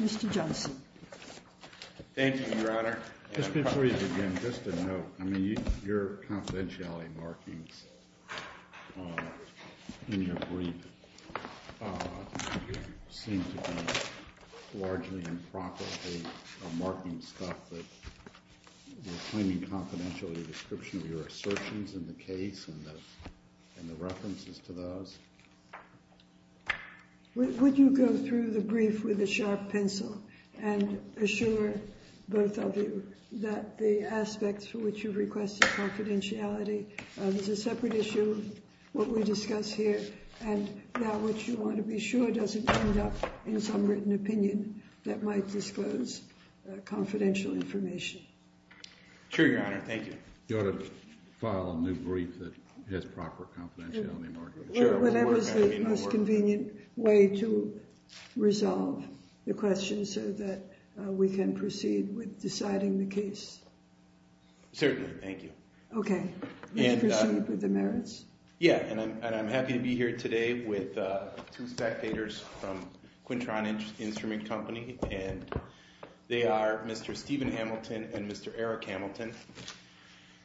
Mr. Johnson. Thank you, Your Honor. Just before you begin, just a note. I mean, your confidentiality markings in your brief seem to be largely improperly marking stuff that you're claiming confidentiality description of your assertions in the case and the references to those. Would you go through the brief with a sharp pencil and assure both of you that the aspects for which you've requested confidentiality, there's a separate issue of what we discuss here, and that which you want to be sure doesn't end up in some written opinion that might disclose confidential information. Sure, Your Honor. Thank you. You ought to file a new brief that has proper confidentiality markings. Whatever's the most convenient way to resolve the question so that we can proceed with deciding the case. Certainly. Thank you. Okay. Let's proceed with the merits. Yeah, and I'm happy to be here today with two spectators from QuinTron Instrument Company, and they are Mr. Stephen Hamilton and Mr. Eric Hamilton.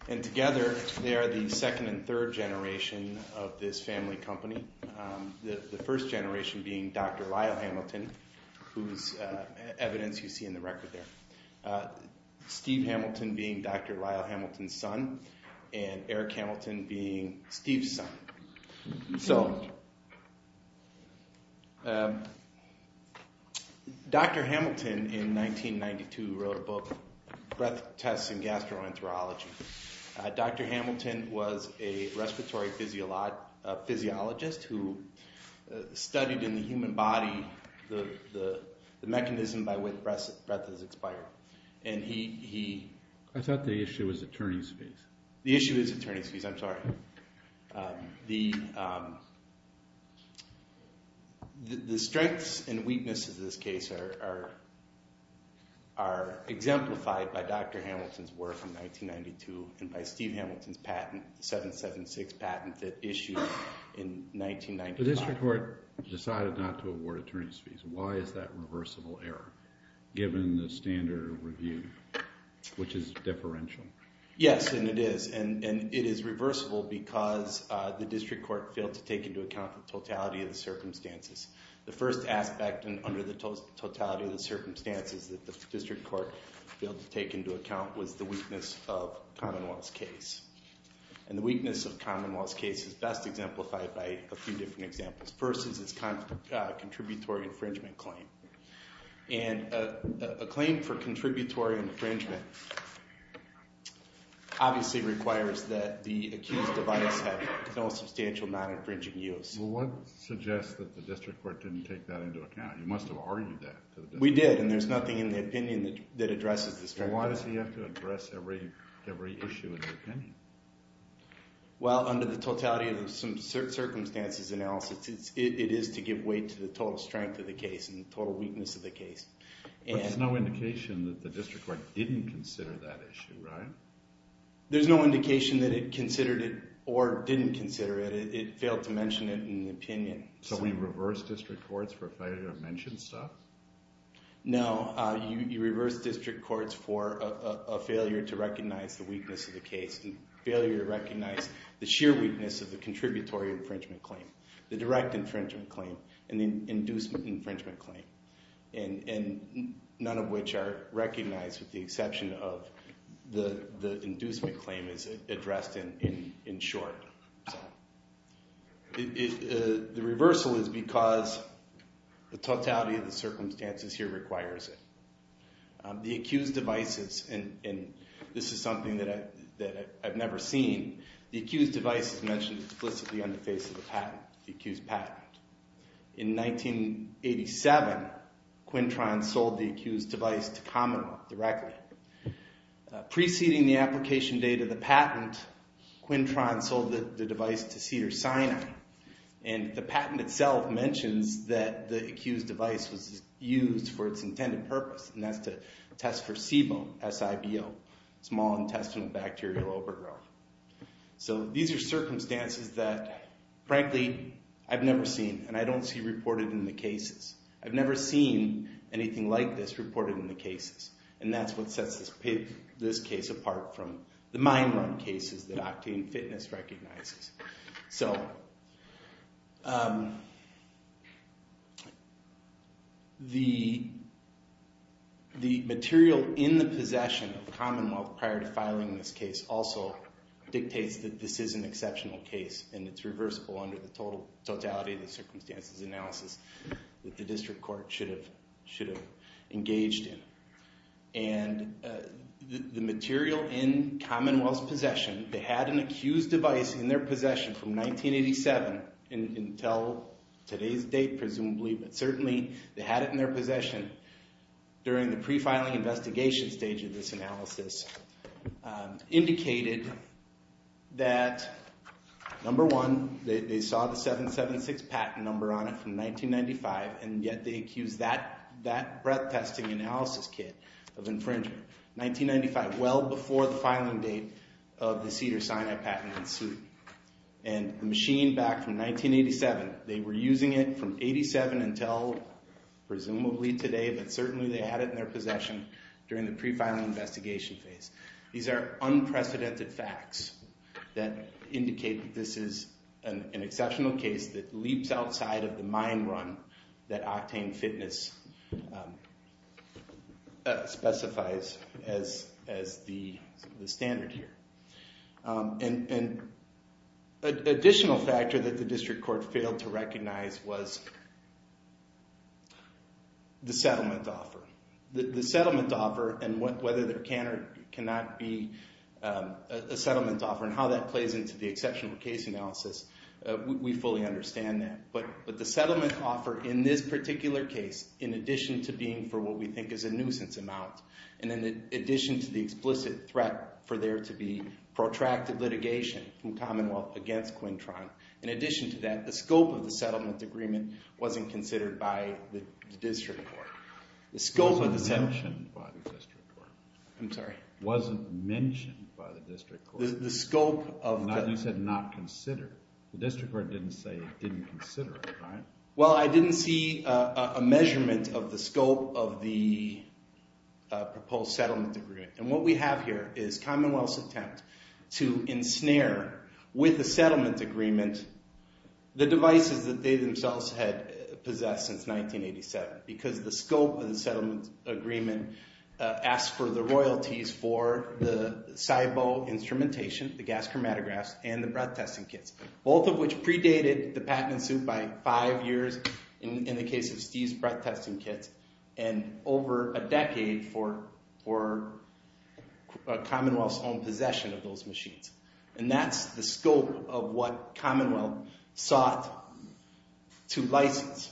And together, they are the second and third generation of this family company, the first generation being Dr. Lyle Hamilton, whose evidence you see in the record there, Steve Hamilton being Dr. Lyle Hamilton's son, and Eric Hamilton being Steve's son. So Dr. Hamilton, in 1992, wrote a book, Breath Tests in Gastroenterology. Dr. Hamilton was a respiratory physiologist who studied in the human body the mechanism by which breath is expired. I thought the issue was attorney's fees. The issue is attorney's fees. I'm sorry. The strengths and weaknesses of this case are exemplified by Dr. Hamilton's work in 1992 and by Steve Hamilton's patent, the 776 patent that issued in 1995. The district court decided not to award attorney's fees. Why is that reversible error, given the standard review, which is deferential? Yes, and it is. And it is reversible because the district court failed to take into account the totality of the circumstances. The first aspect under the totality of the circumstances that the district court failed to take into account was the weakness of the Commonwealth's case. And the weakness of the Commonwealth's case is best exemplified by a few different examples. The first is its contributory infringement claim. And a claim for contributory infringement obviously requires that the accused device have no substantial non-infringing use. Well, what suggests that the district court didn't take that into account? You must have argued that. We did, and there's nothing in the opinion that addresses this very well. Well, why does he have to address every issue in the opinion? Well, under the totality of some circumstances analysis, it is to give weight to the total strength of the case and the total weakness of the case. But there's no indication that the district court didn't consider that issue, right? There's no indication that it considered it or didn't consider it. It failed to mention it in the opinion. So we reverse district courts for failure to mention stuff? No, you reverse district courts for a failure to recognize the weakness of the case and failure to recognize the sheer weakness of the contributory infringement claim, the direct infringement claim, and the inducement infringement claim. And none of which are recognized with the exception of the inducement claim is addressed in short. The reversal is because the totality of the circumstances here requires it. The accused devices, and this is something that I've never seen, the accused devices mentioned explicitly on the face of the patent, the accused patent. In 1987, Quintron sold the accused device to Commonwealth directly. Preceding the application date of the patent, Quintron sold the device to Cedars-Sinai. And the patent itself mentions that the accused device was used for its intended purpose, and that's to test for SIBO, small intestinal bacterial overgrowth. So these are circumstances that, frankly, I've never seen, and I don't see reported in the cases. I've never seen anything like this reported in the cases, and that's what sets this case apart from the mine run cases that Octane Fitness recognizes. So the material in the possession of Commonwealth prior to filing this case also dictates that this is an exceptional case, and it's reversible under the totality of the circumstances analysis that the district court should have engaged in. And the material in Commonwealth's possession, they had an accused device in their possession from 1987 until today's date, presumably, but certainly they had it in their possession during the pre-filing investigation stage of this analysis, indicated that, number one, they saw the 776 patent number on it from 1995, and yet they accused that breath-testing analysis kit of infringement, 1995, well before the filing date of the Cedars-Sinai patent in suit. And the machine back from 1987, they were using it from 87 until presumably today, but certainly they had it in their possession during the pre-filing investigation phase. These are unprecedented facts that indicate that this is an exceptional case that leaps outside of the mine run that Octane Fitness specifies as the standard here. And an additional factor that the district court failed to recognize was the settlement offer. The settlement offer and whether there can or cannot be a settlement offer and how that plays into the exceptional case analysis, we fully understand that. But the settlement offer in this particular case, in addition to being for what we think is a nuisance amount, and in addition to the explicit threat for there to be protracted litigation from Commonwealth against Quintron, in addition to that, the scope of the settlement agreement wasn't considered by the district court. It wasn't mentioned by the district court. I'm sorry. It wasn't mentioned by the district court. The scope of the... You said not considered. The district court didn't say it didn't consider it, right? Well, I didn't see a measurement of the scope of the proposed settlement agreement. And what we have here is Commonwealth's attempt to ensnare with the settlement agreement the devices that they themselves had possessed since 1987 because the scope of the settlement agreement asked for the royalties for the SIBO instrumentation, the gas chromatographs, and the breath testing kits, both of which predated the patent suit by five years in the case of Steve's breath testing kits and over a decade for Commonwealth's own possession of those machines. And that's the scope of what Commonwealth sought to license,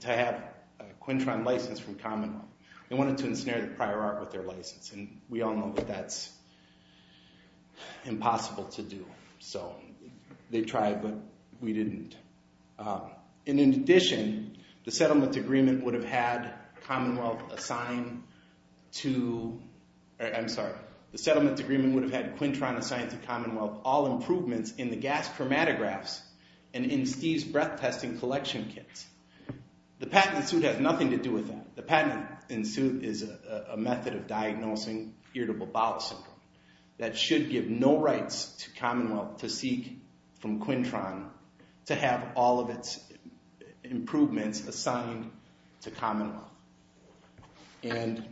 to have a Quintron license from Commonwealth. They wanted to ensnare the prior art with their license, and we all know that that's impossible to do. So they tried, but we didn't. And in addition, the settlement agreement would have had Commonwealth assigned to... I'm sorry. The settlement agreement would have had Quintron assigned to Commonwealth all improvements in the gas chromatographs and in Steve's breath testing collection kits. The patent suit has nothing to do with that. The patent in suit is a method of diagnosing irritable bowel syndrome. That should give no rights to Commonwealth to seek from Quintron to have all of its improvements assigned to Commonwealth. And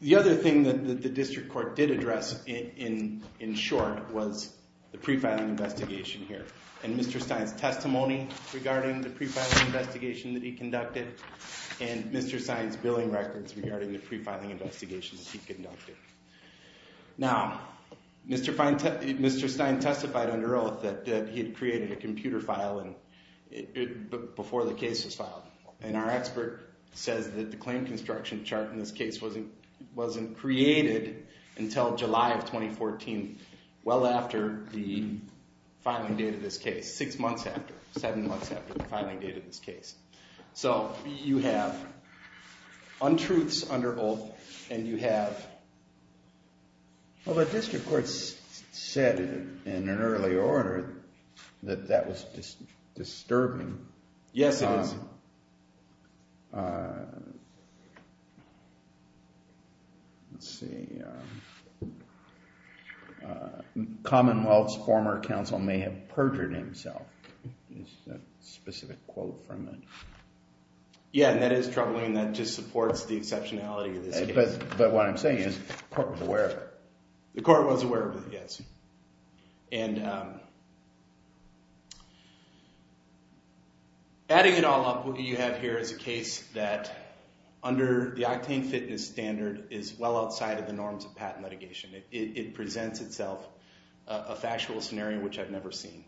the other thing that the district court did address in short was the pre-filing investigation here. And Mr. Stein's testimony regarding the pre-filing investigation that he conducted, and Mr. Stein's billing records regarding the pre-filing investigation that he conducted. Now, Mr. Stein testified under oath that he had created a computer file before the case was filed. And our expert says that the claim construction chart in this case wasn't created until July of 2014, well after the filing date of this case, six months after, seven months after the filing date of this case. So you have untruths under oath, and you have... Well, the district court said in an early order that that was disturbing. Yes, it is. Let's see. Commonwealth's former counsel may have perjured himself is a specific quote from it. Yeah, and that is troubling. That just supports the exceptionality of this case. But what I'm saying is the court was aware of it. The court was aware of it, yes. And adding it all up, what you have here is a case that, under the octane fitness standard, is well outside of the norms of patent litigation. It presents itself a factual scenario which I've never seen.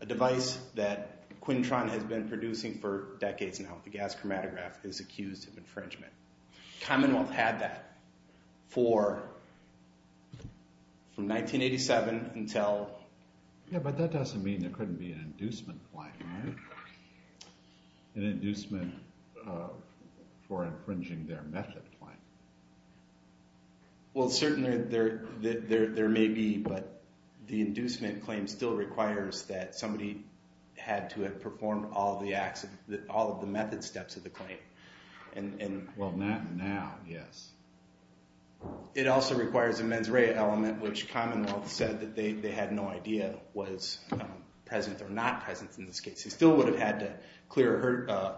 A device that Quintron has been producing for decades now, the gas chromatograph, is accused of infringement. Commonwealth had that from 1987 until... Yeah, but that doesn't mean there couldn't be an inducement claim, right? An inducement for infringing their method claim. Well, certainly there may be, but the inducement claim still requires that somebody had to have performed all of the method steps of the claim. Well, not now, yes. It also requires a mens rea element, which Commonwealth said that they had no idea was present or not present in this case. They still would have had to clear a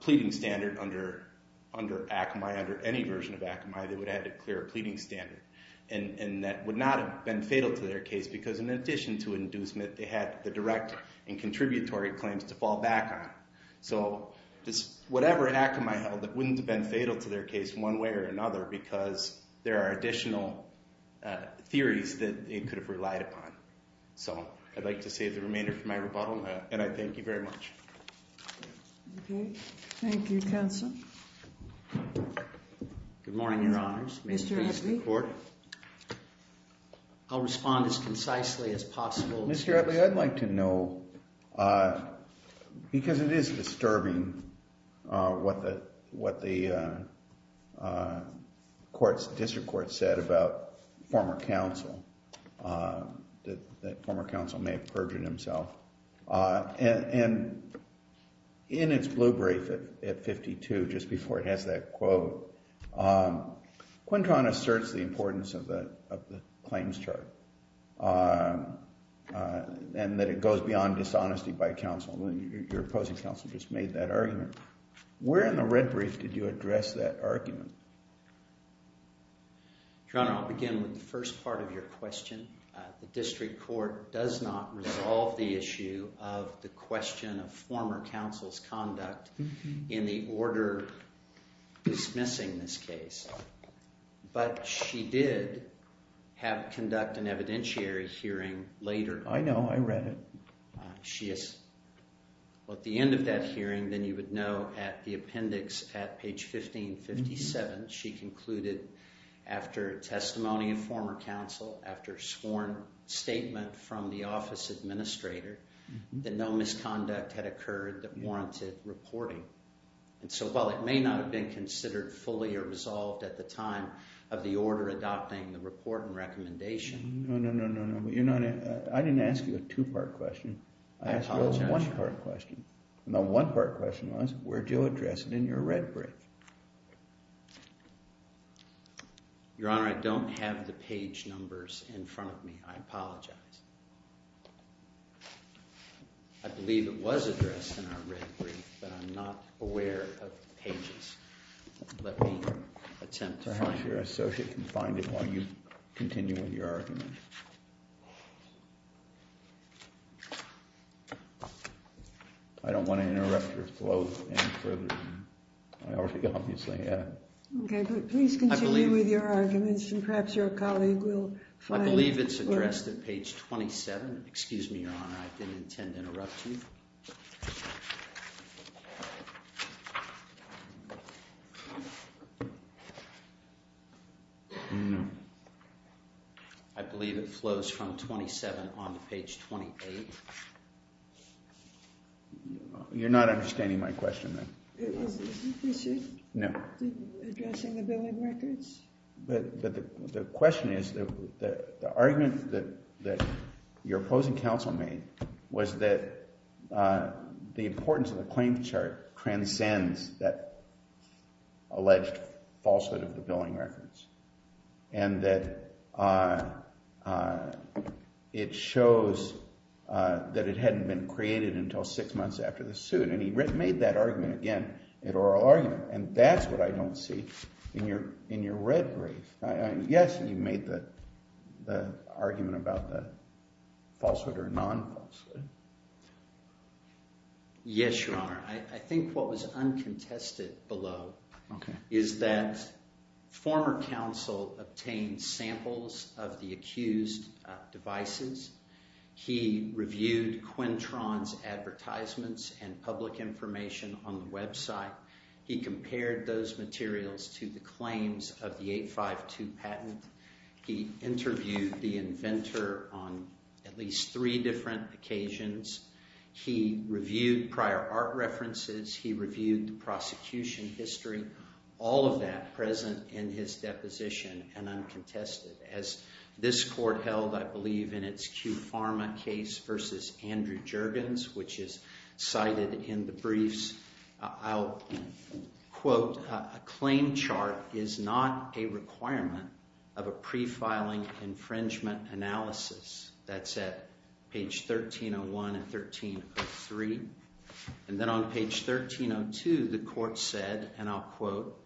pleading standard under ACMI. Under any version of ACMI, they would have had to clear a pleading standard. And that would not have been fatal to their case, because in addition to an inducement, they had the direct and contributory claims to fall back on. So just whatever ACMI held, it wouldn't have been fatal to their case one way or another because there are additional theories that it could have relied upon. So I'd like to save the remainder for my rebuttal, and I thank you very much. Okay. Thank you, counsel. Good morning, Your Honours. May it please the Court? I'll respond as concisely as possible. Mr. Edley, I'd like to know, because it is disturbing what the district court said about former counsel, that former counsel may have perjured himself. And in its blue brief at 52, just before it has that quote, Quintron asserts the importance of the claims chart and that it goes beyond dishonesty by counsel. Your opposing counsel just made that argument. Where in the red brief did you address that argument? Your Honour, I'll begin with the first part of your question. The district court does not resolve the issue of the question of former counsel's conduct in the order dismissing this case. But she did conduct an evidentiary hearing later. I know, I read it. At the end of that hearing, then you would know at the appendix at page 1557, she concluded after testimony of former counsel, after sworn statement from the office administrator, that no misconduct had occurred that warranted reporting. And so while it may not have been considered fully or resolved at the time of the order adopting the report and recommendation. No, no, no, no. I didn't ask you a two-part question. I asked you a one-part question. And the one-part question was, where did you address it in your red brief? Your Honour, I don't have the page numbers in front of me. I apologize. I believe it was addressed in our red brief, but I'm not aware of pages. Let me attempt to find it. Perhaps your associate can find it while you continue with your argument. I don't want to interrupt your flow any further than I already obviously have. Okay, but please continue with your arguments and perhaps your colleague will find it. I believe it's addressed at page 27. Excuse me, your Honour. I didn't intend to interrupt you. No. I believe it flows from 27 on to page 28. You're not understanding my question, then. Is it? No. Addressing the billing records? The question is, the argument that your opposing counsel made was that the importance of the claims chart transcends that alleged falsehood of the billing records. And that it shows that it hadn't been created until six months after the suit. And he made that argument again, an oral argument. And that's what I don't see in your red brief. Yes, you made the argument about the falsehood or non-falsehood. Yes, your Honour. I think what was uncontested below is that former counsel obtained samples of the accused devices. He reviewed Quintron's advertisements and public information on the website. He compared those materials to the claims of the 852 patent. He interviewed the inventor on at least three different occasions. He reviewed prior art references. He reviewed the prosecution history. All of that present in his deposition and uncontested. As this court held, I believe, in its Q Pharma case versus Andrew Juergens, which is cited in the briefs. I'll quote, a claim chart is not a requirement of a pre-filing infringement analysis. That's at page 1301 and 1303. And then on page 1302, the court said, and I'll quote,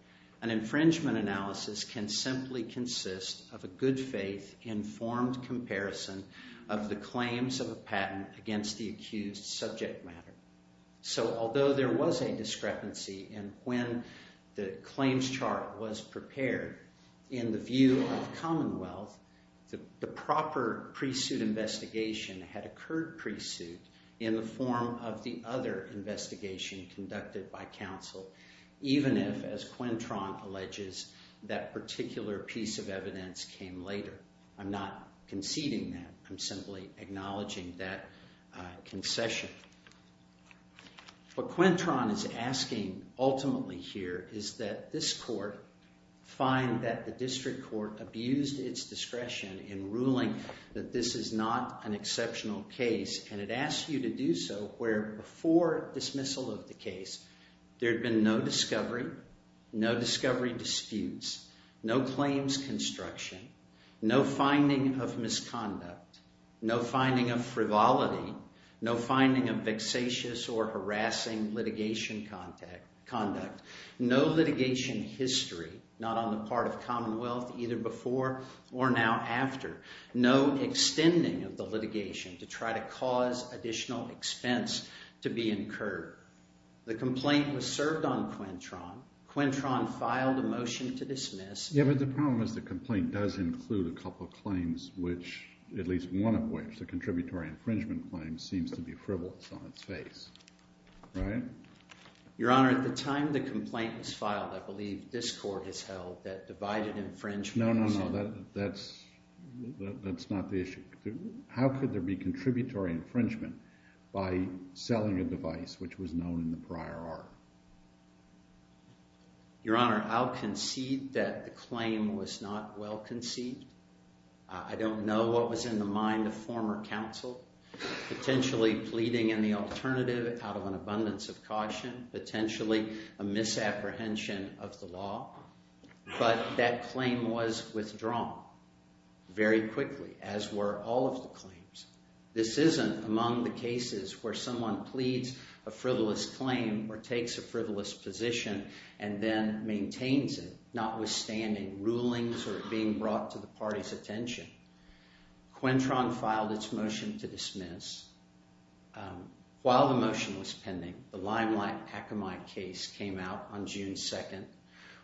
an infringement analysis can simply consist of a good faith informed comparison of the claims of a patent against the accused subject matter. So although there was a discrepancy in when the claims chart was prepared, in the view of Commonwealth, the proper pre-suit investigation had occurred pre-suit in the form of the other investigation conducted by counsel, even if, as Quintron alleges, that particular piece of evidence came later. I'm not conceding that. I'm simply acknowledging that concession. What Quintron is asking ultimately here is that this court find that the district court abused its discretion in ruling that this is not an exceptional case. And it asks you to do so where, before dismissal of the case, there had been no discovery, no discovery disputes, no claims construction, no finding of misconduct, no finding of frivolity, no finding of vexatious or harassing litigation conduct, no litigation history not on the part of Commonwealth either before or now after, no extending of the litigation to try to cause additional expense to be incurred. The complaint was served on Quintron. Quintron filed a motion to dismiss. Yeah, but the problem is the complaint does include a couple of claims, which at least one of which, the contributory infringement claim, seems to be frivolous on its face. Right? Your Honor, at the time the complaint was filed, I believe this court has held that divided infringement was- No, no, no. That's not the issue. How could there be contributory infringement by selling a device which was known in the prior art? Your Honor, I'll concede that the claim was not well conceived. I don't know what was in the mind of former counsel, potentially pleading in the alternative out of an abundance of caution, potentially a misapprehension of the law, but that claim was withdrawn very quickly, as were all of the claims. This isn't among the cases where someone pleads a frivolous claim or takes a frivolous position and then maintains it, notwithstanding rulings or being brought to the party's attention. Quintron filed its motion to dismiss. While the motion was pending, the Limelight-Akamai case came out on June 2nd.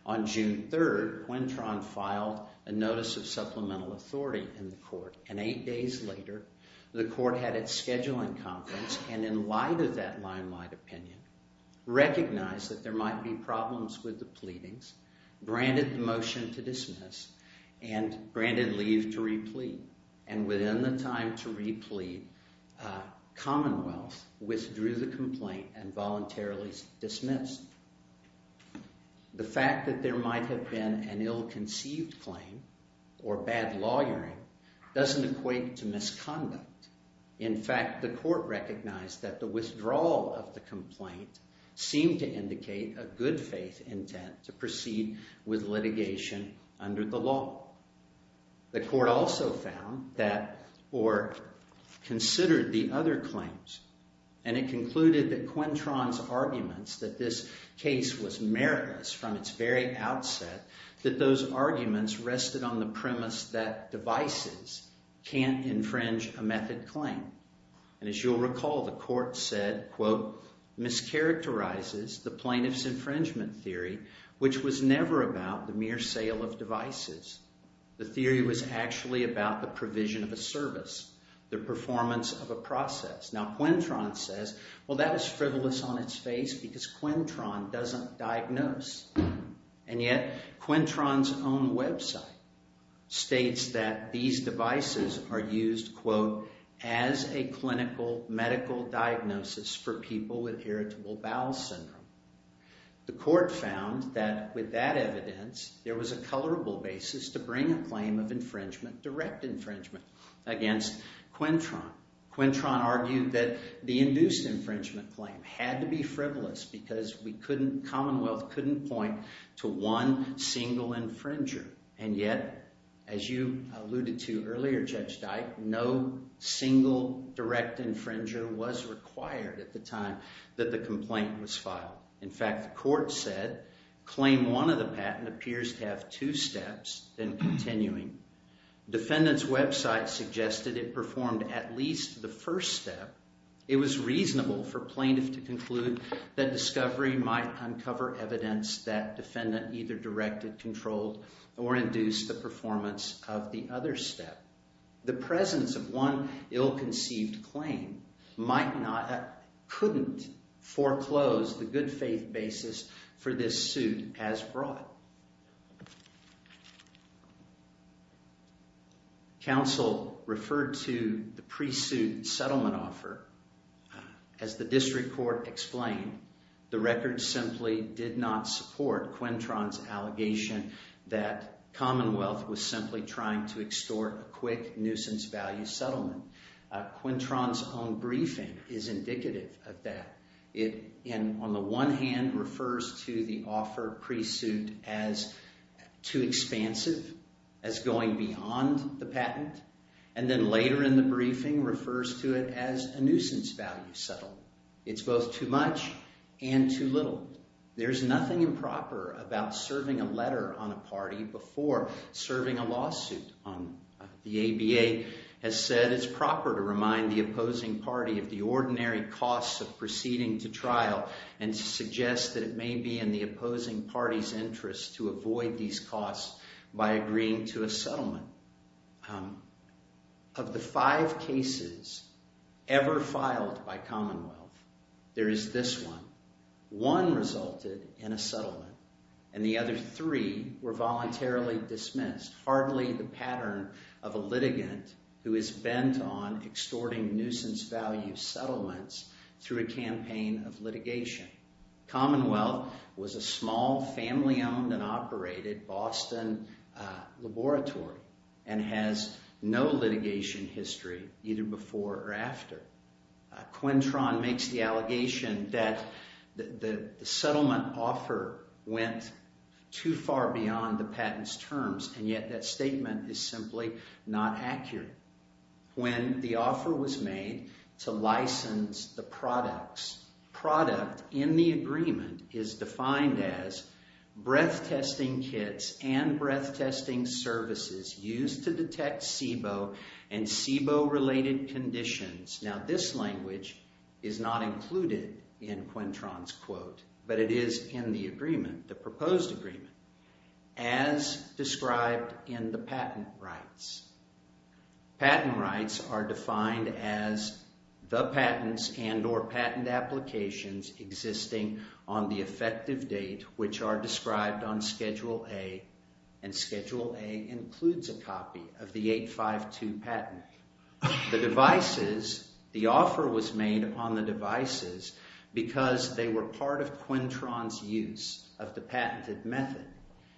On June 3rd, Quintron filed a notice of supplemental authority in the court, and eight days later, the court had its scheduling conference, and in light of that Limelight opinion, recognized that there might be problems with the pleadings, granted the motion to dismiss, and granted leave to replete. And within the time to replete, Commonwealth withdrew the complaint and voluntarily dismissed. The fact that there might have been an ill-conceived claim or bad lawyering doesn't equate to misconduct. In fact, the court recognized that the withdrawal of the complaint seemed to indicate a good-faith intent to proceed with litigation under the law. The court also found that, or considered the other claims, and it concluded that Quintron's arguments that this case was meritless from its very outset, that those arguments rested on the premise that devices can't infringe a method claim. And as you'll recall, the court said, quote, mischaracterizes the plaintiff's infringement theory, which was never about the mere sale of devices. The theory was actually about the provision of a service, the performance of a process. Now, Quintron says, well, that is frivolous on its face because Quintron doesn't diagnose. And yet Quintron's own website states that these devices are used, quote, as a clinical medical diagnosis for people with irritable bowel syndrome. The court found that with that evidence, there was a colorable basis to bring a claim of infringement, direct infringement, against Quintron. Quintron argued that the induced infringement claim had to be frivolous because Commonwealth couldn't point to one single infringer. And yet, as you alluded to earlier, Judge Dyke, no single direct infringer was required at the time that the complaint was filed. In fact, the court said, claim one of the patent appears to have two steps, then continuing. Defendant's website suggested it performed at least the first step. It was reasonable for plaintiff to conclude that discovery might uncover evidence that defendant either directed, controlled, or induced the performance of the other step. The presence of one ill-conceived claim might not, couldn't foreclose the good faith basis for this suit as brought. Counsel referred to the pre-suit settlement offer. As the district court explained, the record simply did not support Quintron's allegation that Commonwealth was simply trying to extort a quick nuisance value settlement. Quintron's own briefing is indicative of that. It, on the one hand, refers to the offer pre-suit as too expansive, as going beyond the patent, and then later in the briefing refers to it as a nuisance value settlement. It's both too much and too little. There's nothing improper about serving a letter on a party before serving a lawsuit. The ABA has said it's proper to remind the opposing party of the ordinary costs of proceeding to trial and to suggest that it may be in the opposing party's interest to avoid these costs by agreeing to a settlement. Of the five cases ever filed by Commonwealth, there is this one. One resulted in a settlement, and the other three were voluntarily dismissed. Hardly the pattern of a litigant who is bent on extorting nuisance value settlements through a campaign of litigation. Commonwealth was a small, family-owned and operated Boston laboratory and has no litigation history, either before or after. Quintron makes the allegation that the settlement offer went too far beyond the patent's terms, and yet that statement is simply not accurate. When the offer was made to license the products, product in the agreement is defined as breath-testing kits and breath-testing services used to detect SIBO and SIBO-related conditions. Now, this language is not included in Quintron's quote, but it is in the agreement, the proposed agreement. As described in the patent rights, patent rights are defined as the patents and or patent applications existing on the effective date which are described on Schedule A, and Schedule A includes a copy of the 852 patent. The devices, the offer was made on the devices because they were part of Quintron's use of the patented method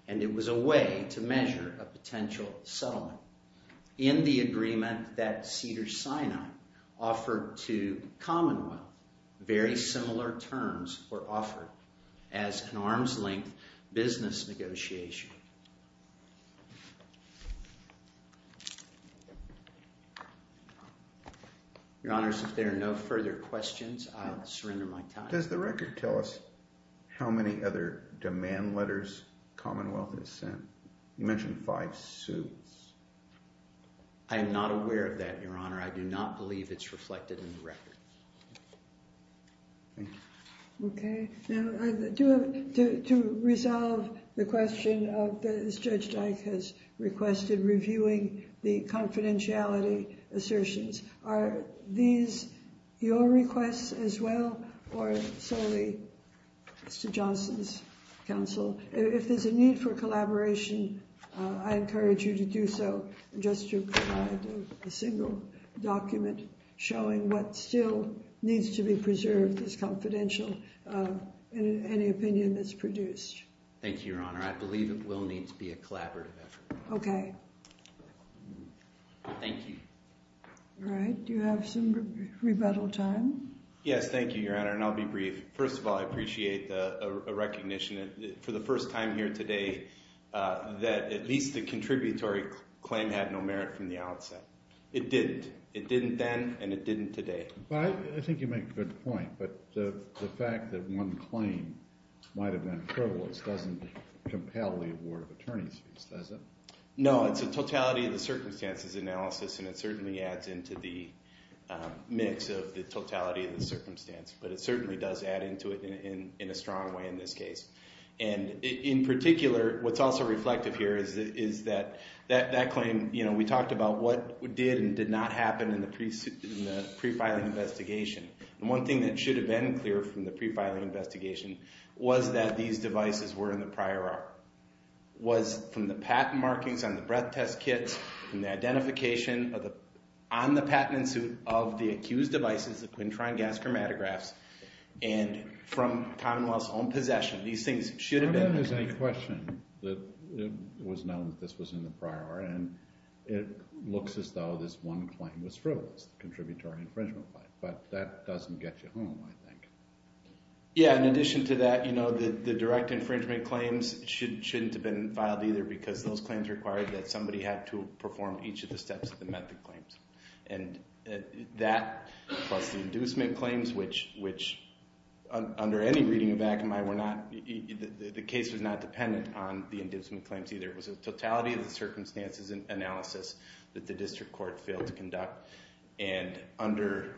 and it was a way to measure a potential settlement. In the agreement that Cedars-Sinai offered to Commonwealth, very similar terms were offered as an arm's-length business negotiation. Your Honors, if there are no further questions, I'll surrender my time. Does the record tell us how many other demand letters Commonwealth has sent? You mentioned five suits. I am not aware of that, Your Honor. I do not believe it's reflected in the record. Now, to resolve the question of whether or not Judge Dyke has requested reviewing the confidentiality assertions, are these your requests as well or solely Mr. Johnson's counsel? If there's a need for collaboration, I encourage you to do so, just to provide a single document showing what still needs to be preserved as confidential in any opinion that's produced. Thank you, Your Honor. I believe it will need to be a collaborative effort. Okay. Thank you. All right. Do you have some rebuttal time? Yes, thank you, Your Honor, and I'll be brief. First of all, I appreciate the recognition for the first time here today that at least the contributory claim had no merit from the outset. It didn't. It didn't then and it didn't today. I think you make a good point, but the fact that one claim might have been frivolous doesn't compel the award of attorney's fees, does it? No, it's a totality of the circumstances analysis and it certainly adds into the mix of the totality of the circumstance, but it certainly does add into it in a strong way in this case. In particular, what's also reflective here is that that claim, we talked about what did and did not happen in the pre-filing investigation. The one thing that should have been clear from the pre-filing investigation was that these devices were in the prior art, was from the patent markings on the breath test kits and the identification on the patent suit of the accused devices, the quintron gas chromatographs, and from Commonwealth's own possession. These things should have been. I don't think there's any question that it was known that this was in the prior art and it looks as though this one claim was frivolous, the contributory infringement claim, but that doesn't get you home, I think. Yeah, in addition to that, the direct infringement claims shouldn't have been filed either because those claims required that somebody had to perform each of the steps of the method claims and that plus the inducement claims, which under any reading of Akamai, the case was not dependent on the inducement claims either. It was a totality of the circumstances analysis that the district court failed to conduct. And under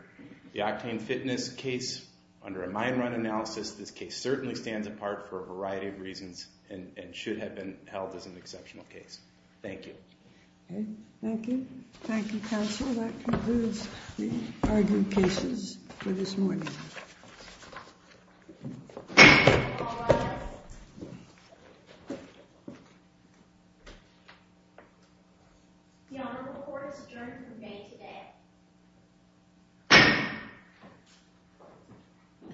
the octane fitness case, under a mine run analysis, this case certainly stands apart for a variety of reasons and should have been held as an exceptional case. Thank you. Okay, thank you. Thank you, counsel. That concludes the argument cases for this morning. The honorable court is adjourned for the day today.